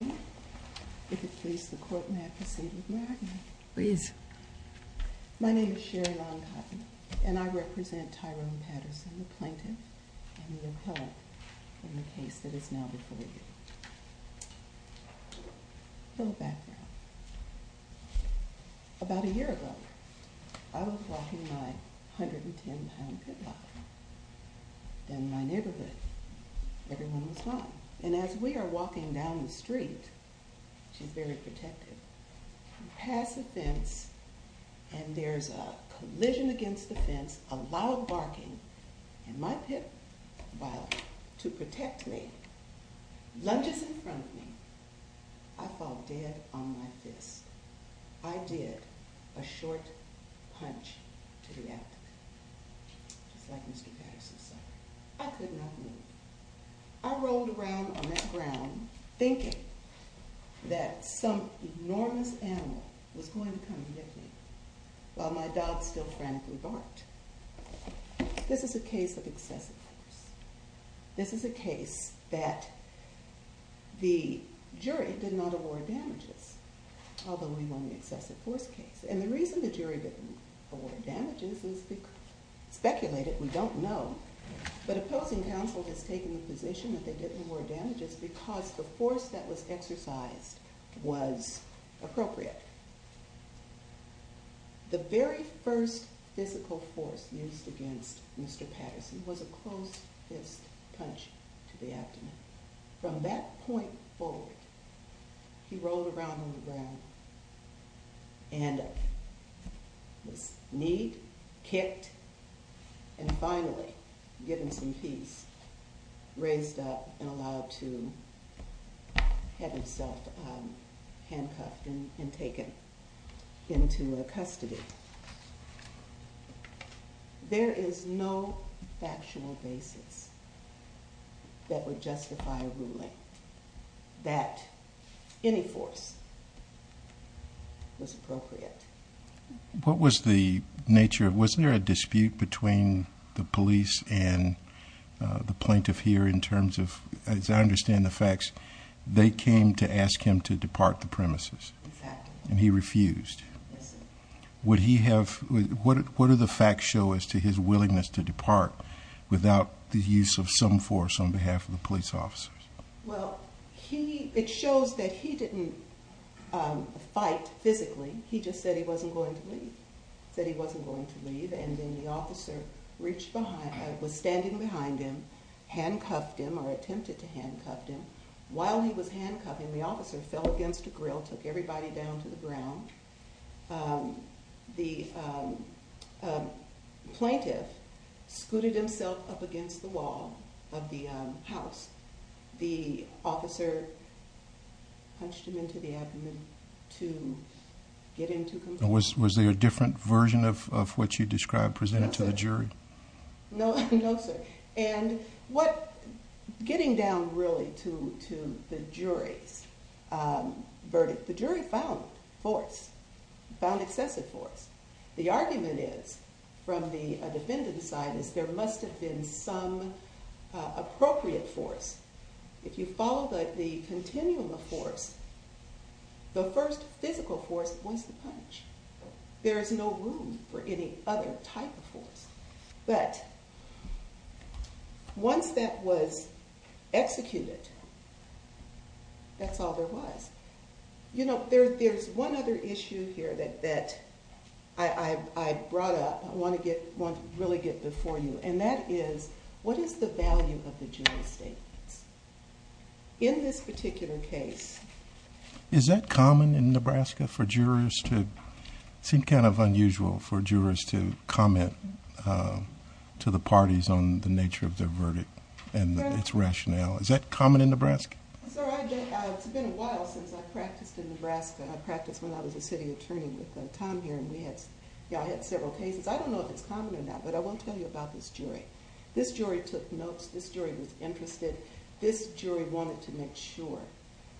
My name is Sherry Long-Cotton, and I represent Tyrone Patterson, the plaintiff and the appellate in the case that is now before you. A little background. About a year ago, I was walking my 110-pound footlocker. In my neighborhood, everyone was fine. And as we are walking down the street, she's very protective, we pass a fence, and there's a collision against the fence, a loud barking, and my pit bull to protect me lunges in front of me. I fall dead on my fist. I did a short punch to the applicant, just like Mr. Patterson suffered. I could not move. I rolled around on that ground thinking that some enormous animal was going to come and get me, while my dog still frantically barked. This is a case of excessive force. This is a case that the jury did not award damages, although we won the excessive force case. And the reason the jury didn't award damages is speculated, we don't know, but opposing counsel has taken the position that they didn't award damages because the force that was exercised was appropriate. The very first physical force used against Mr. Patterson was a closed fist punch to the abdomen. From that point forward, he rolled around on the ground and was kneed, kicked, and finally given some peace, raised up, and allowed to have himself handcuffed and taken into custody. There is no factual basis that would justify a ruling that any force was appropriate. What was the nature, was there a dispute between the police and the plaintiff here in terms of, as I understand the facts, they came to ask him to depart the premises. And he refused. What do the facts show as to his willingness to depart without the use of some force on behalf of the police officers? Well, it shows that he didn't fight physically, he just said he wasn't going to leave. He said he wasn't going to leave, and then the officer was standing behind him, handcuffed him, or attempted to handcuff him. While he was handcuffing, the officer fell against a grill, took everybody down to the ground. The plaintiff scooted himself up against the wall of the house. The officer punched him into the abdomen to get him to confess. Was there a different version of what you described presented to the jury? No, sir. Getting down really to the jury's verdict, the jury found force, found excessive force. The argument is, from the defendant's side, is there must have been some appropriate force. If you follow the continuum of force, the first physical force was the punch. There is no room for any other type of force. But once that was executed, that's all there was. You know, there's one other issue here that I brought up, I want to really get before you, and that is, what is the value of the jury statements? In this particular case... Is that common in Nebraska for jurors to... it seems kind of unusual for jurors to comment to the parties on the nature of their verdict and its rationale. Is that common in Nebraska? Sir, it's been a while since I practiced in Nebraska. I practiced when I was a city attorney with Tom here, and I had several cases. I don't know if it's common or not, but I want to tell you about this jury. This jury took notes. This jury was interested. This jury wanted to make sure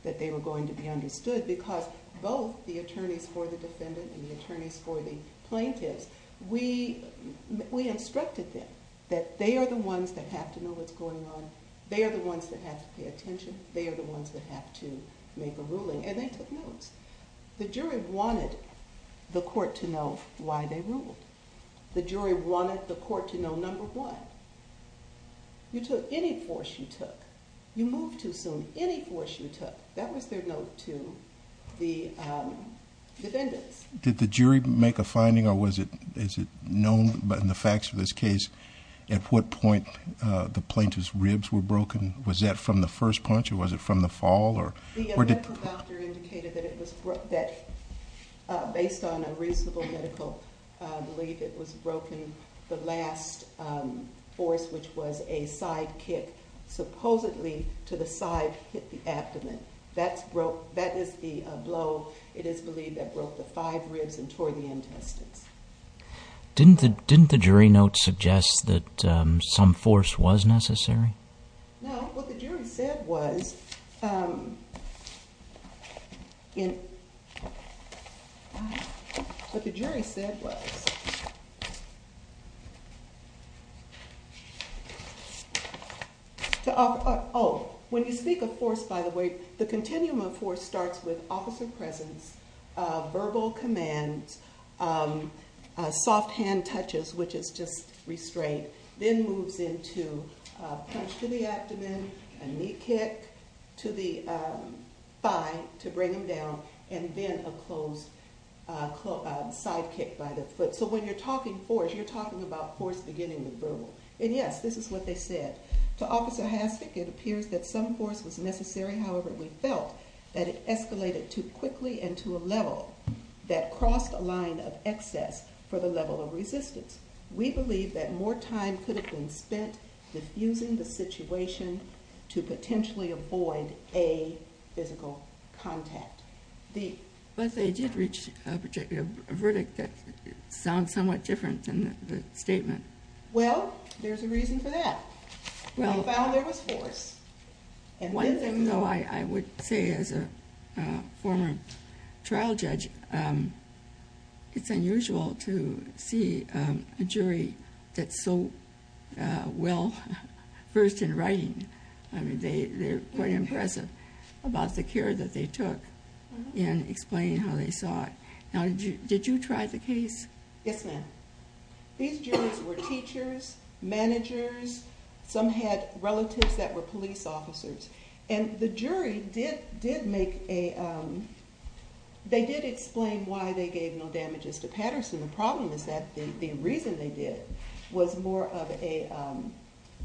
that they were going to be understood, because both the attorneys for the defendant and the attorneys for the plaintiffs... We instructed them that they are the ones that have to know what's going on. They are the ones that have to pay attention. They are the ones that have to make a ruling, and they took notes. The jury wanted the court to know why they ruled. The jury wanted the court to know number one. You took any force you took. You moved too soon. Any force you took. That was their note to the defendants. Did the jury make a finding, or is it known in the facts of this case, at what point the plaintiff's ribs were broken? Was that from the first punch, or was it from the fall? The medical doctor indicated that based on a reasonable medical belief, it was broken. The last force, which was a side kick, supposedly to the side hit the abdomen. That is the blow, it is believed, that broke the five ribs and tore the intestines. Didn't the jury note suggest that some force was necessary? No, what the jury said was, when you speak of force, by the way, the continuum of force starts with officer presence, verbal commands, soft hand touches, which is just restraint, then moves into a punch to the abdomen, a knee kick to the thigh to bring him down, and then a side kick by the foot. So when you're talking force, you're talking about force beginning with verbal. And yes, this is what they said. To Officer Hastic, it appears that some force was necessary. However, we felt that it escalated too quickly and to a level that crossed a line of excess for the level of resistance. We believe that more time could have been spent diffusing the situation to potentially avoid a physical contact. But they did reach a verdict that sounds somewhat different than the statement. Well, there's a reason for that. We found there was force. One thing, though, I would say as a former trial judge, it's unusual to see a jury that's so well versed in writing. They're quite impressive about the care that they took in explaining how they saw it. Now, did you try the case? Yes, ma'am. These jurors were teachers, managers. Some had relatives that were police officers. And the jury did make a – they did explain why they gave no damages to Patterson. The problem is that the reason they did was more of a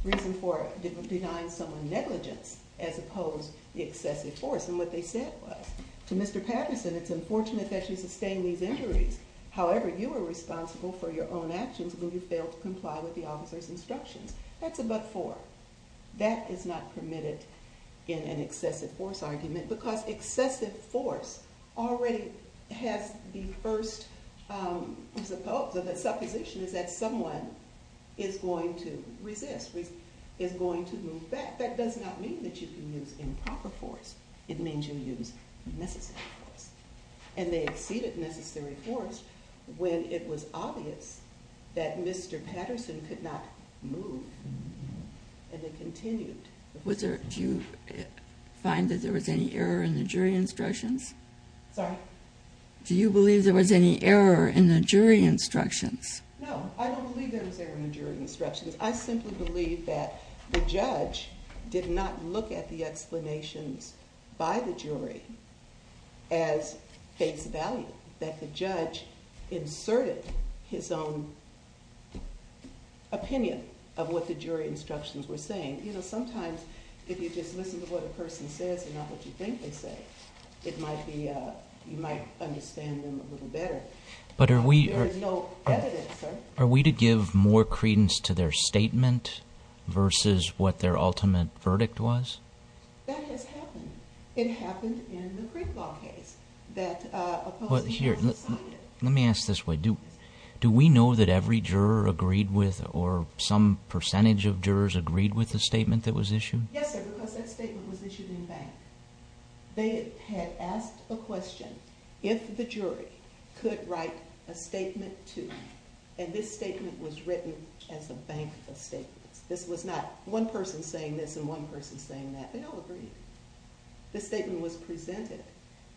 reason for denying someone negligence as opposed to excessive force. And what they said was, to Mr. Patterson, it's unfortunate that you sustained these injuries. However, you are responsible for your own actions when you fail to comply with the officer's instructions. That's a but for. That is not permitted in an excessive force argument because excessive force already has the first supposition is that someone is going to resist, is going to move back. That does not mean that you can use improper force. It means you use necessary force. And they exceeded necessary force when it was obvious that Mr. Patterson could not move. And they continued. Do you find that there was any error in the jury instructions? Sorry? Do you believe there was any error in the jury instructions? No, I don't believe there was error in the jury instructions. I simply believe that the judge did not look at the explanations by the jury as face value. That the judge inserted his own opinion of what the jury instructions were saying. You know, sometimes if you just listen to what a person says and not what you think they say, you might understand them a little better. But are we- There is no evidence, sir. Are we to give more credence to their statement versus what their ultimate verdict was? That has happened. It happened in the Greek law case. Here, let me ask this way. Do we know that every juror agreed with or some percentage of jurors agreed with the statement that was issued? Yes, sir, because that statement was issued in bank. They had asked a question if the jury could write a statement to. And this statement was written as a bank of statements. This was not one person saying this and one person saying that. They all agreed. This statement was presented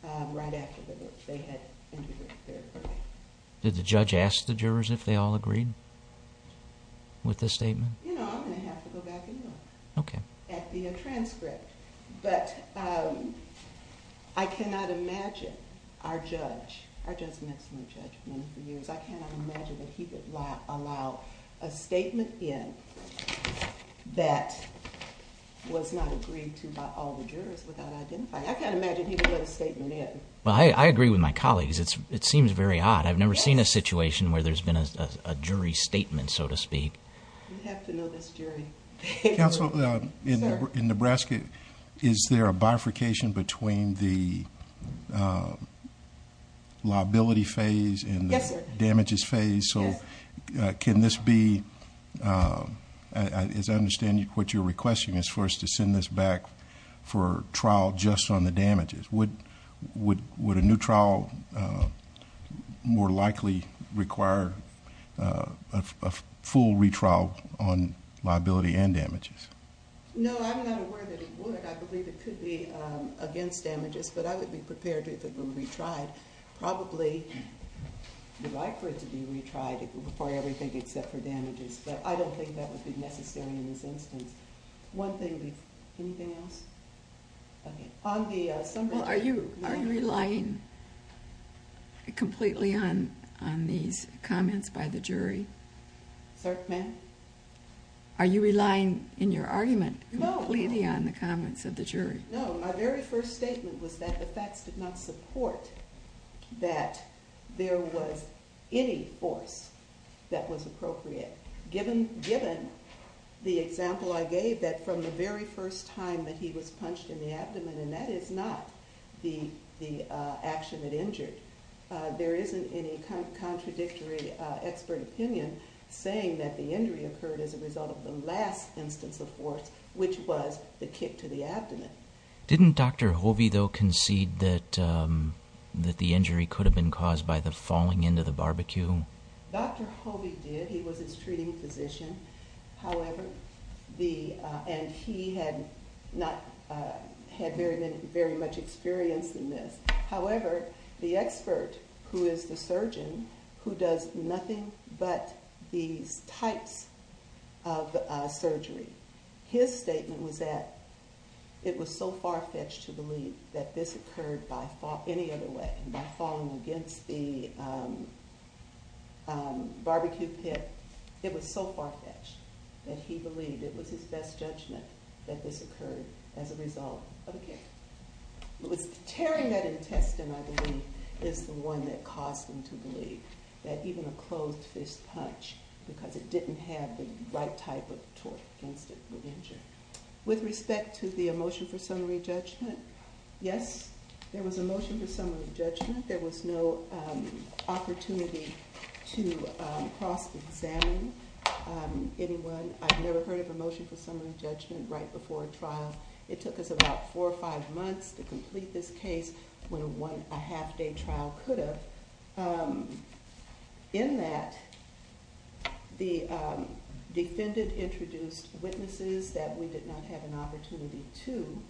right after they had entered their verdict. Did the judge ask the jurors if they all agreed with the statement? You know, I'm going to have to go back and look at the transcript. But I cannot imagine our judge- Our judge makes no judgment for years. I cannot imagine that he would allow a statement in that was not agreed to by all the jurors without identifying it. I can't imagine he would let a statement in. Well, I agree with my colleagues. It seems very odd. I've never seen a situation where there's been a jury statement, so to speak. You have to know this jury. Counsel, in Nebraska, is there a bifurcation between the liability phase and the damages phase? So can this be-as I understand what you're requesting is for us to send this back for trial just on the damages. Would a new trial more likely require a full retrial on liability and damages? No, I'm not aware that it would. I believe it could be against damages, but I would be prepared if it were retried. Probably the right for it to be retried if it were for everything except for damages. But I don't think that would be necessary in this instance. One thing-anything else? Well, are you relying completely on these comments by the jury? Sir, ma'am? Are you relying in your argument completely on the comments of the jury? No, my very first statement was that the facts did not support that there was any force that was appropriate. Given the example I gave, that from the very first time that he was punched in the abdomen, and that is not the action that injured, there isn't any contradictory expert opinion saying that the injury occurred as a result of the last instance of force, which was the kick to the abdomen. Didn't Dr. Hovey, though, concede that the injury could have been caused by the falling into the barbecue? Dr. Hovey did. He was his treating physician. However, the-and he had not-had very much experience in this. However, the expert who is the surgeon, who does nothing but these types of surgery, his statement was that it was so far-fetched to believe that this occurred by any other way, by falling against the barbecue pit. It was so far-fetched that he believed it was his best judgment that this occurred as a result of a kick. It was tearing that intestine, I believe, is the one that caused him to believe that even a closed fist punch, because it didn't have the right type of torque against it, would injure. With respect to the motion for summary judgment, yes, there was a motion for summary judgment. There was no opportunity to cross-examine anyone. I've never heard of a motion for summary judgment right before a trial. It took us about four or five months to complete this case when a one-and-a-half-day trial could have. In that, the defendant introduced witnesses that we did not have an opportunity to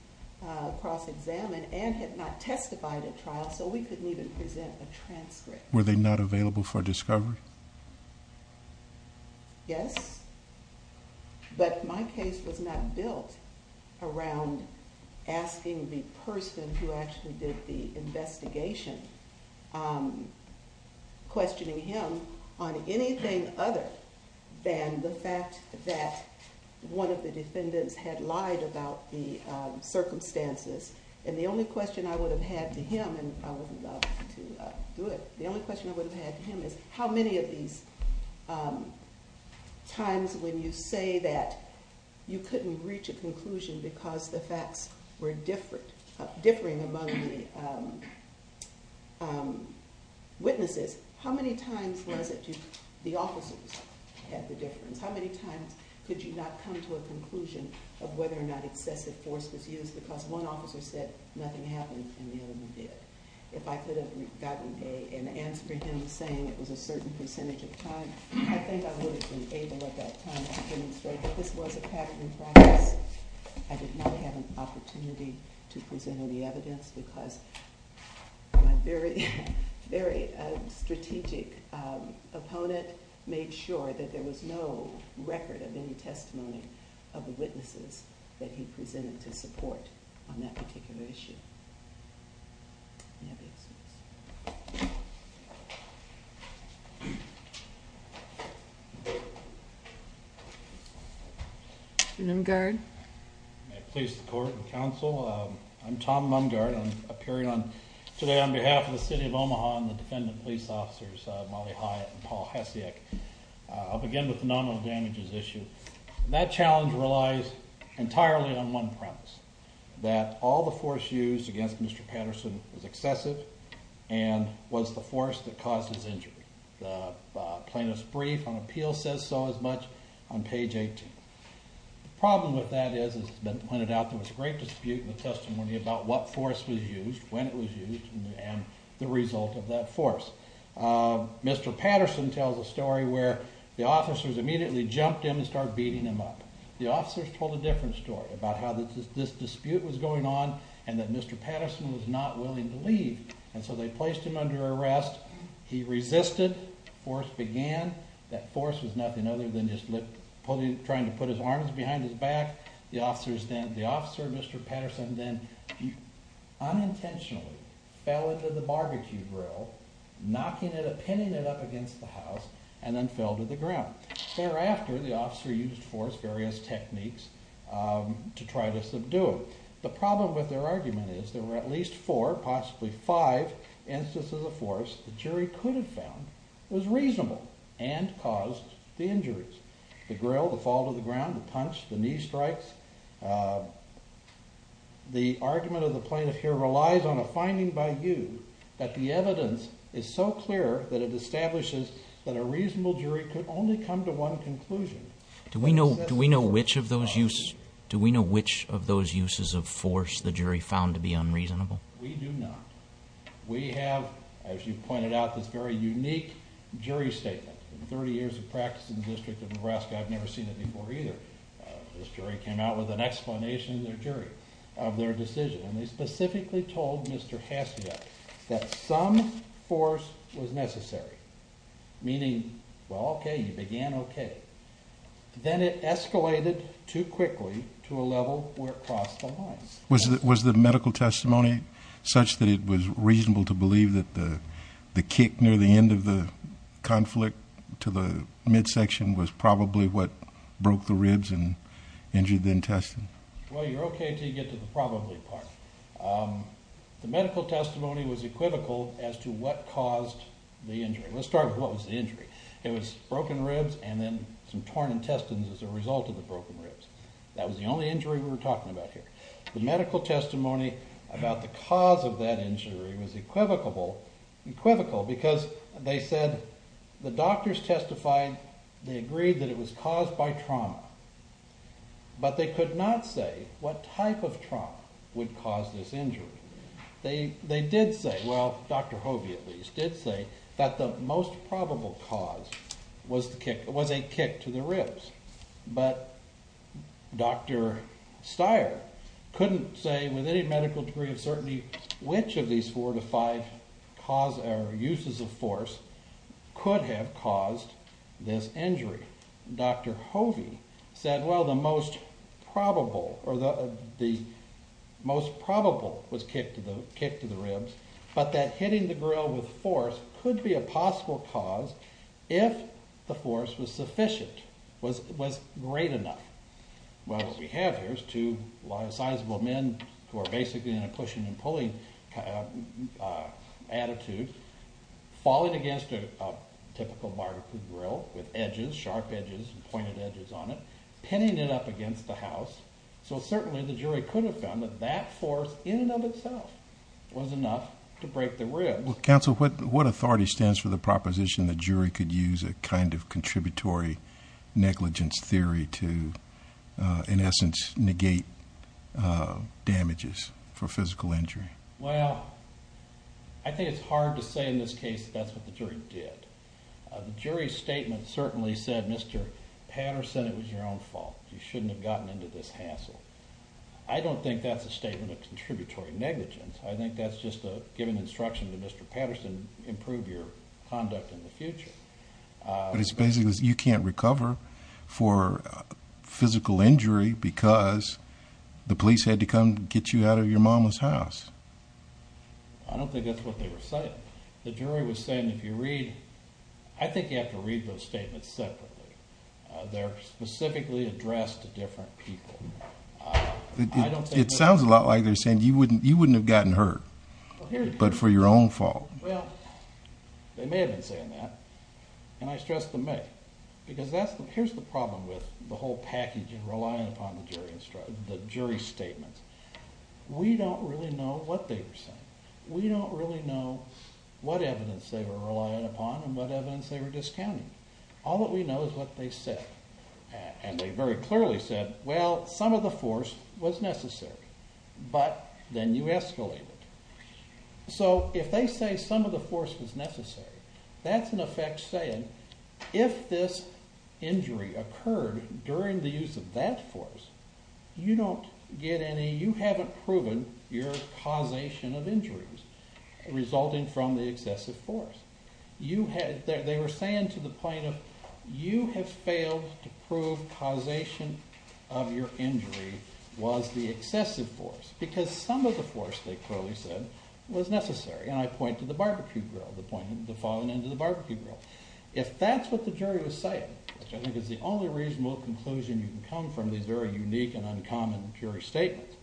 cross-examine and had not testified at trial, so we couldn't even present a transcript. Were they not available for discovery? Yes, but my case was not built around asking the person who actually did the investigation questioning him on anything other than the fact that one of the defendants had lied about the circumstances. The only question I would have had to him is, how many of these times when you say that you couldn't reach a conclusion because the facts were differing among the witnesses, how many times was it that the officers had the difference? How many times could you not come to a conclusion of whether or not excessive force was used because one officer said nothing happened and the other one did? If I could have gotten an answer for him saying it was a certain percentage of time, I think I would have been able at that time to demonstrate that this was a patent in practice. I did not have an opportunity to present any evidence because my very strategic opponent made sure that there was no record of any testimony of the witnesses that he presented to support on that particular issue. Mr. Mumgaard. I'm Tom Mumgaard. I'm appearing today on behalf of the City of Omaha and the defendant police officers, Molly Hyatt and Paul Hasiak. I'll begin with the nominal damages issue. That challenge relies entirely on one premise, that all the force used against Mr. Patterson was excessive and was the force that caused his injury. The plaintiff's brief on appeal says so as much on page 18. The problem with that is, as has been pointed out, there was a great dispute in the testimony about what force was used, when it was used, and the result of that force. Mr. Patterson tells a story where the officers immediately jumped in and started beating him up. The officers told a different story about how this dispute was going on and that Mr. Patterson was not willing to leave and so they placed him under arrest. He resisted. Force began. That force was nothing other than just trying to put his arms behind his back. The officer, Mr. Patterson, then unintentionally fell into the barbecue grill, knocking it, pinning it up against the house, and then fell to the ground. Thereafter, the officer used force, various techniques, to try to subdue him. The problem with their argument is there were at least four, possibly five, instances of force the jury could have found was reasonable and caused the injuries. The grill, the fall to the ground, the punch, the knee strikes. The argument of the plaintiff here relies on a finding by you that the evidence is so clear that it establishes that a reasonable jury could only come to one conclusion. Do we know which of those uses of force the jury found to be unreasonable? We do not. We have, as you pointed out, this very unique jury statement. In 30 years of practice in the District of Nebraska, I've never seen it before either. This jury came out with an explanation of their decision, and they specifically told Mr. Hacio that some force was necessary, meaning, well, okay, you began okay. Then it escalated too quickly to a level where it crossed the lines. Was the medical testimony such that it was reasonable to believe that the kick near the end of the conflict to the midsection was probably what broke the ribs and injured the intestine? Well, you're okay until you get to the probably part. The medical testimony was equivocal as to what caused the injury. Let's start with what was the injury. It was broken ribs and then some torn intestines as a result of the broken ribs. That was the only injury we were talking about here. The medical testimony about the cause of that injury was equivocal because they said the doctors testified, they agreed that it was caused by trauma, but they could not say what type of trauma would cause this injury. They did say, well, Dr. Hovey at least did say, that the most probable cause was a kick to the ribs, but Dr. Stier couldn't say with any medical degree of certainty which of these four to five uses of force could have caused this injury. Dr. Hovey said, well, the most probable was kick to the ribs, but that hitting the grill with force could be a possible cause if the force was sufficient, was great enough. What we have here is two sizable men who are basically in a pushing and pulling attitude falling against a typical barbecue grill with edges, sharp edges, pointed edges on it, pinning it up against the house. So certainly the jury could have found that that force in and of itself was enough to break the ribs. Counsel, what authority stands for the proposition the jury could use a kind of contributory negligence theory to, in essence, negate damages for physical injury? Well, I think it's hard to say in this case that that's what the jury did. The jury's statement certainly said, Mr. Patterson, it was your own fault. You shouldn't have gotten into this hassle. I don't think that's a statement of contributory negligence. I think that's just giving instruction to Mr. Patterson, improve your conduct in the future. But it's basically you can't recover for physical injury because the police had to come get you out of your mama's house. I don't think that's what they were saying. The jury was saying if you read, I think you have to read those statements separately. They're specifically addressed to different people. It sounds a lot like they're saying you wouldn't have gotten hurt but for your own fault. Well, they may have been saying that, and I stress the may, because here's the problem with the whole package and relying upon the jury statements. We don't really know what they were saying. We don't really know what evidence they were relying upon and what evidence they were discounting. All that we know is what they said, and they very clearly said, well, some of the force was necessary, but then you escalated. So if they say some of the force was necessary, that's in effect saying if this injury occurred during the use of that force, you don't get any, you haven't proven your causation of injuries resulting from the excessive force. They were saying to the point of you have failed to prove causation of your injury was the excessive force because some of the force, they clearly said, was necessary. And I point to the barbecue grill, the falling into the barbecue grill. If that's what the jury was saying, which I think is the only reasonable conclusion you can come from these very unique and uncommon jury statements,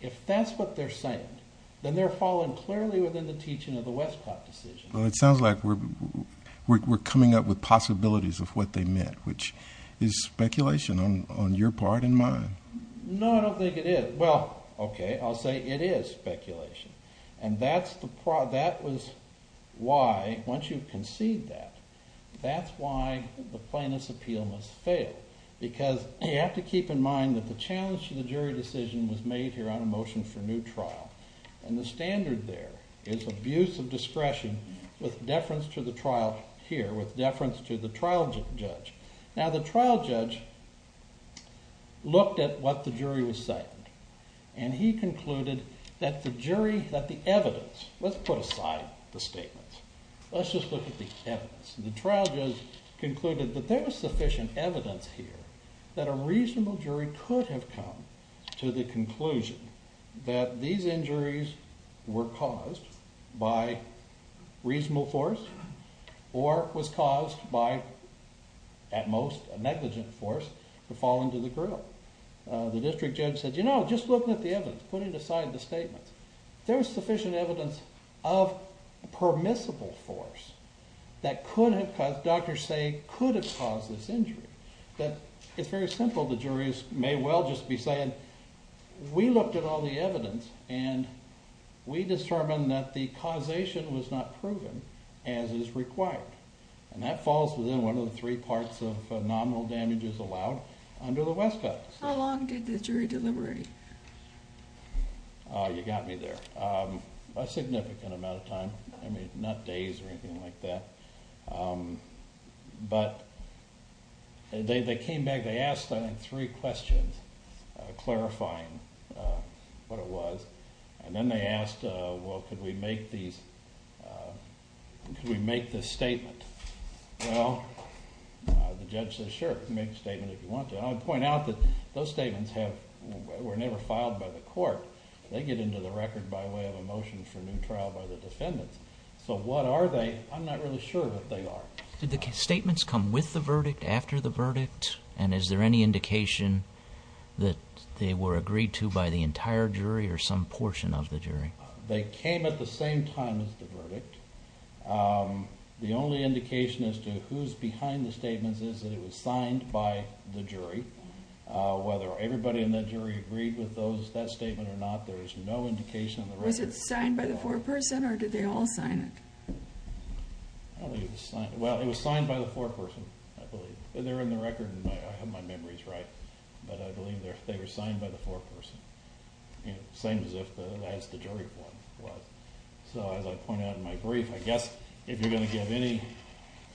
if that's what they're saying, then they're falling clearly within the teaching of the Westcott decision. Well, it sounds like we're coming up with possibilities of what they meant, which is speculation on your part and mine. No, I don't think it is. Well, okay, I'll say it is speculation. And that was why, once you concede that, that's why the plaintiff's appeal must fail because you have to keep in mind that the challenge to the jury decision was made here on a motion for new trial. And the standard there is abuse of discretion with deference to the trial here, with deference to the trial judge. Now, the trial judge looked at what the jury was citing. And he concluded that the jury, that the evidence, let's put aside the statements. Let's just look at the evidence. The trial judge concluded that there was sufficient evidence here that a reasonable jury could have come to the conclusion that these injuries were caused by reasonable force or was caused by, at most, a negligent force to fall into the grill. The district judge said, you know, just looking at the evidence, putting aside the statements, there was sufficient evidence of permissible force that could have caused, doctors say, could have caused this injury. But it's very simple. The jury may well just be saying, we looked at all the evidence and we determined that the causation was not proven as is required. And that falls within one of the three parts of nominal damages allowed under the West Coast. How long did the jury delivery? Oh, you got me there. A significant amount of time. I mean, not days or anything like that. But they came back. They asked, I think, three questions clarifying what it was. And then they asked, well, could we make these, could we make this statement? Well, the judge said, sure, make the statement if you want to. I would point out that those statements were never filed by the court. They get into the record by way of a motion for a new trial by the defendants. So what are they? I'm not really sure what they are. Did the statements come with the verdict, after the verdict? And is there any indication that they were agreed to by the entire jury or some portion of the jury? They came at the same time as the verdict. The only indication as to who's behind the statements is that it was signed by the jury. Whether everybody in the jury agreed with that statement or not, there is no indication in the record. Was it signed by the foreperson or did they all sign it? Well, it was signed by the foreperson, I believe. They're in the record, and I have my memories right. But I believe they were signed by the foreperson. Same as if the jury one was. So as I pointed out in my brief, I guess if you're going to give any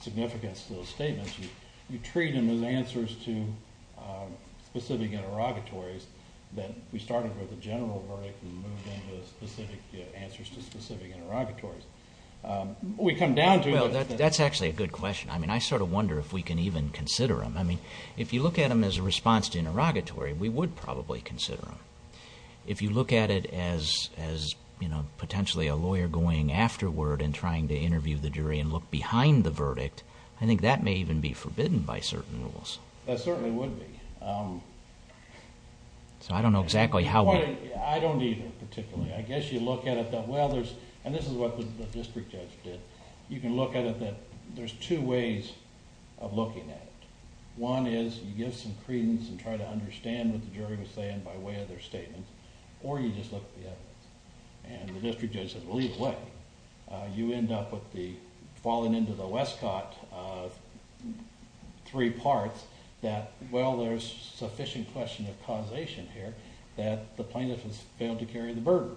significance to those statements, you treat them as answers to specific interrogatories. We started with a general verdict and moved into answers to specific interrogatories. What we come down to is... Well, that's actually a good question. I mean, I sort of wonder if we can even consider them. I mean, if you look at them as a response to interrogatory, we would probably consider them. If you look at it as potentially a lawyer going afterward and trying to interview the jury and look behind the verdict, I think that may even be forbidden by certain rules. That certainly would be. So I don't know exactly how... I don't either, particularly. I guess you look at it that, well, there's... And this is what the district judge did. You can look at it that there's two ways of looking at it. One is you give some credence and try to understand what the jury was saying by way of their statement, or you just look at the evidence. And the district judge said, well, either way, you end up with the... three parts that, well, there's sufficient question of causation here that the plaintiff has failed to carry the burden.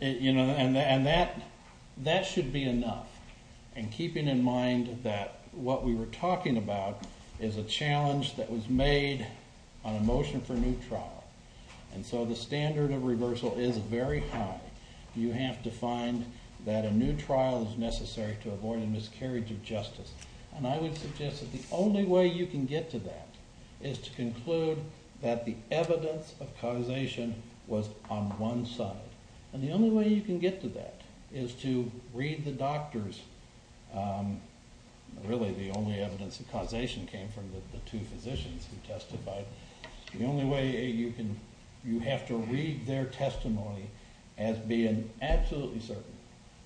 And that should be enough. And keeping in mind that what we were talking about is a challenge that was made on a motion for new trial. And so the standard of reversal is very high. You have to find that a new trial is necessary to avoid a miscarriage of justice. And I would suggest that the only way you can get to that is to conclude that the evidence of causation was on one side. And the only way you can get to that is to read the doctors. Really, the only evidence of causation came from the two physicians who testified. The only way you can...you have to read their testimony as being absolutely certain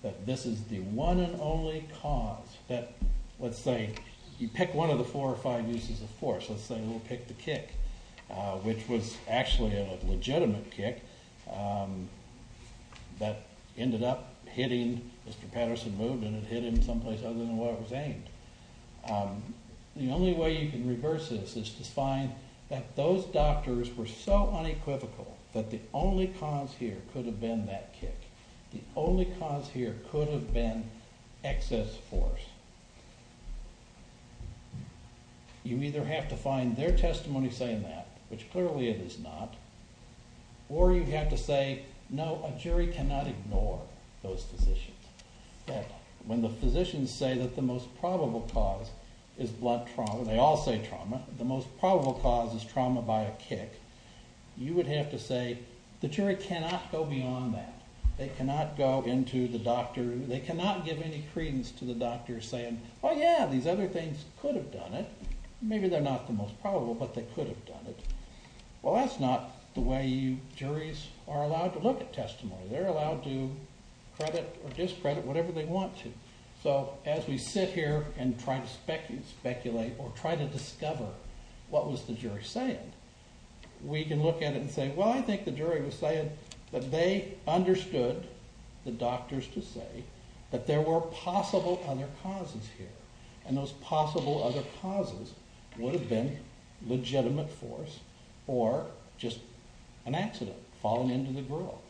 that this is the one and only cause that, let's say, you pick one of the four or five uses of force. Let's say we'll pick the kick, which was actually a legitimate kick that ended up hitting... Mr. Patterson moved and it hit him someplace other than where it was aimed. The only way you can reverse this is to find that those doctors were so unequivocal that the only cause here could have been that kick. The only cause here could have been excess force. You either have to find their testimony saying that, which clearly it is not, or you have to say, no, a jury cannot ignore those physicians. When the physicians say that the most probable cause is blood trauma, they all say trauma, the most probable cause is trauma by a kick, you would have to say the jury cannot go beyond that. They cannot go into the doctor...they cannot give any credence to the doctor saying, well, yeah, these other things could have done it. Maybe they're not the most probable, but they could have done it. Well, that's not the way juries are allowed to look at testimony. They're allowed to credit or discredit whatever they want to. So as we sit here and try to speculate or try to discover what was the jury saying, we can look at it and say, well, I think the jury was saying that they understood the doctors to say that there were possible other causes here, and those possible other causes would have been legitimate force or just an accident, falling into the grill.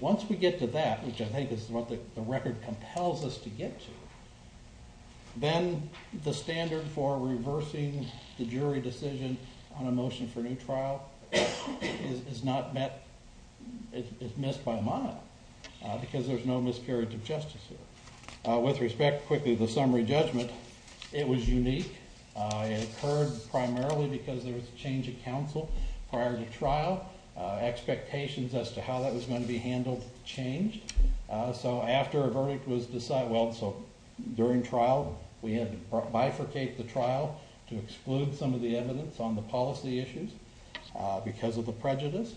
Once we get to that, which I think is what the record compels us to get to, then the standard for reversing the jury decision on a motion for new trial is not met, is missed by a mile because there's no miscarriage of justice here. With respect, quickly, to the summary judgment, it was unique. It occurred primarily because there was a change of counsel prior to trial, expectations as to how that was going to be handled changed. So after a verdict was decided, well, so during trial we had to bifurcate the trial to exclude some of the evidence on the policy issues because of the prejudice.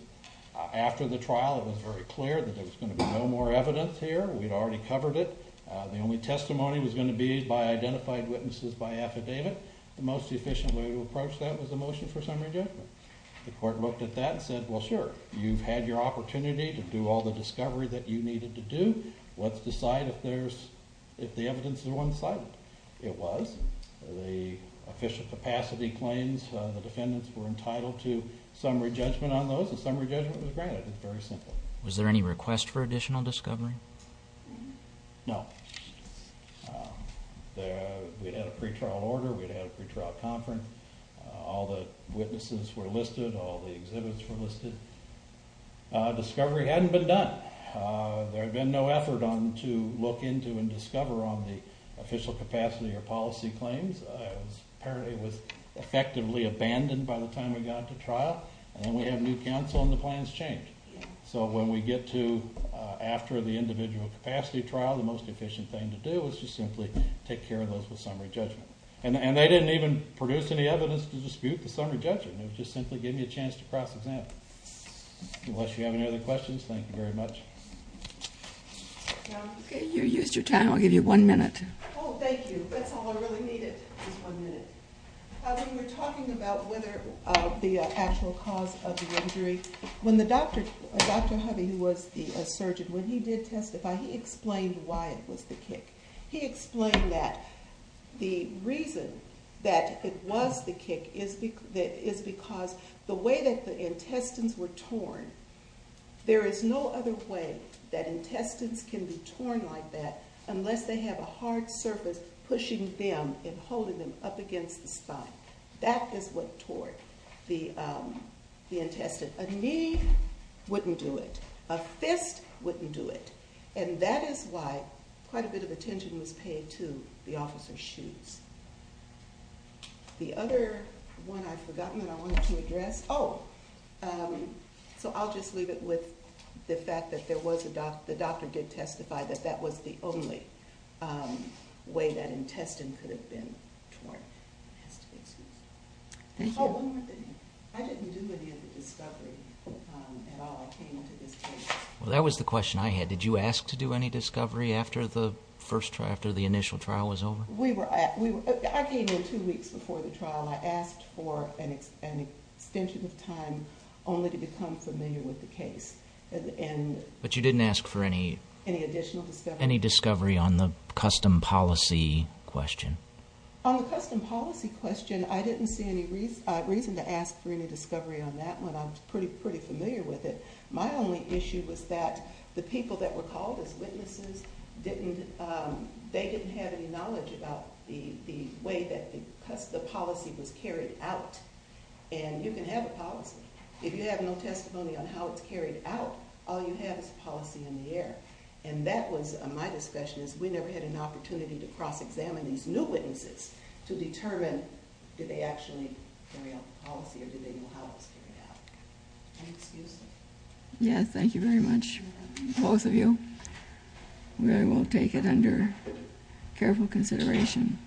After the trial it was very clear that there was going to be no more evidence here. We'd already covered it. The only testimony was going to be by identified witnesses by affidavit. The most efficient way to approach that was a motion for summary judgment. The court looked at that and said, well, sure, you've had your opportunity to do all the discovery that you needed to do. Let's decide if the evidence is one-sided. It was. The efficient capacity claims, the defendants were entitled to summary judgment on those, and summary judgment was granted. It was very simple. Was there any request for additional discovery? No. We'd had a pretrial order. We'd had a pretrial conference. All the witnesses were listed. All the exhibits were listed. Discovery hadn't been done. There had been no effort to look into and discover on the official capacity or policy claims. Apparently it was effectively abandoned by the time we got to trial, and then we have new counsel and the plans change. So when we get to after the individual capacity trial, the most efficient thing to do is to simply take care of those with summary judgment. And they didn't even produce any evidence to dispute the summary judgment. They just simply gave me a chance to cross-examine. Unless you have any other questions, thank you very much. You used your time. I'll give you one minute. Oh, thank you. That's all I really needed was one minute. When we were talking about whether the actual cause of the injury, when the doctor, Dr. Hubby, who was the surgeon, when he did testify, he explained why it was the kick. He explained that the reason that it was the kick is because the way that the intestines were torn, there is no other way that intestines can be torn like that unless they have a hard surface pushing them and holding them up against the spine. That is what tore the intestine. A knee wouldn't do it. A fist wouldn't do it. And that is why quite a bit of attention was paid to the officer's shoes. The other one I've forgotten that I wanted to address. Oh, so I'll just leave it with the fact that the doctor did testify that that was the only way that intestine could have been torn. It has to be excused. Thank you. Oh, one more thing. I didn't do any of the discovery at all. I came into this case. Well, that was the question I had. Did you ask to do any discovery after the initial trial was over? I came in two weeks before the trial. I asked for an extension of time only to become familiar with the case. But you didn't ask for any discovery on the custom policy question? On the custom policy question, I didn't see any reason to ask for any discovery on that one. I was pretty familiar with it. My only issue was that the people that were called as witnesses, they didn't have any knowledge about the way that the policy was carried out. And you can have a policy. If you have no testimony on how it's carried out, all you have is policy in the air. And that was my discussion, is we never had an opportunity to cross-examine these new witnesses to determine did they actually carry out the policy or did they know how it was carried out. Any excuses? Yes, thank you very much, both of you. We will take it under careful consideration.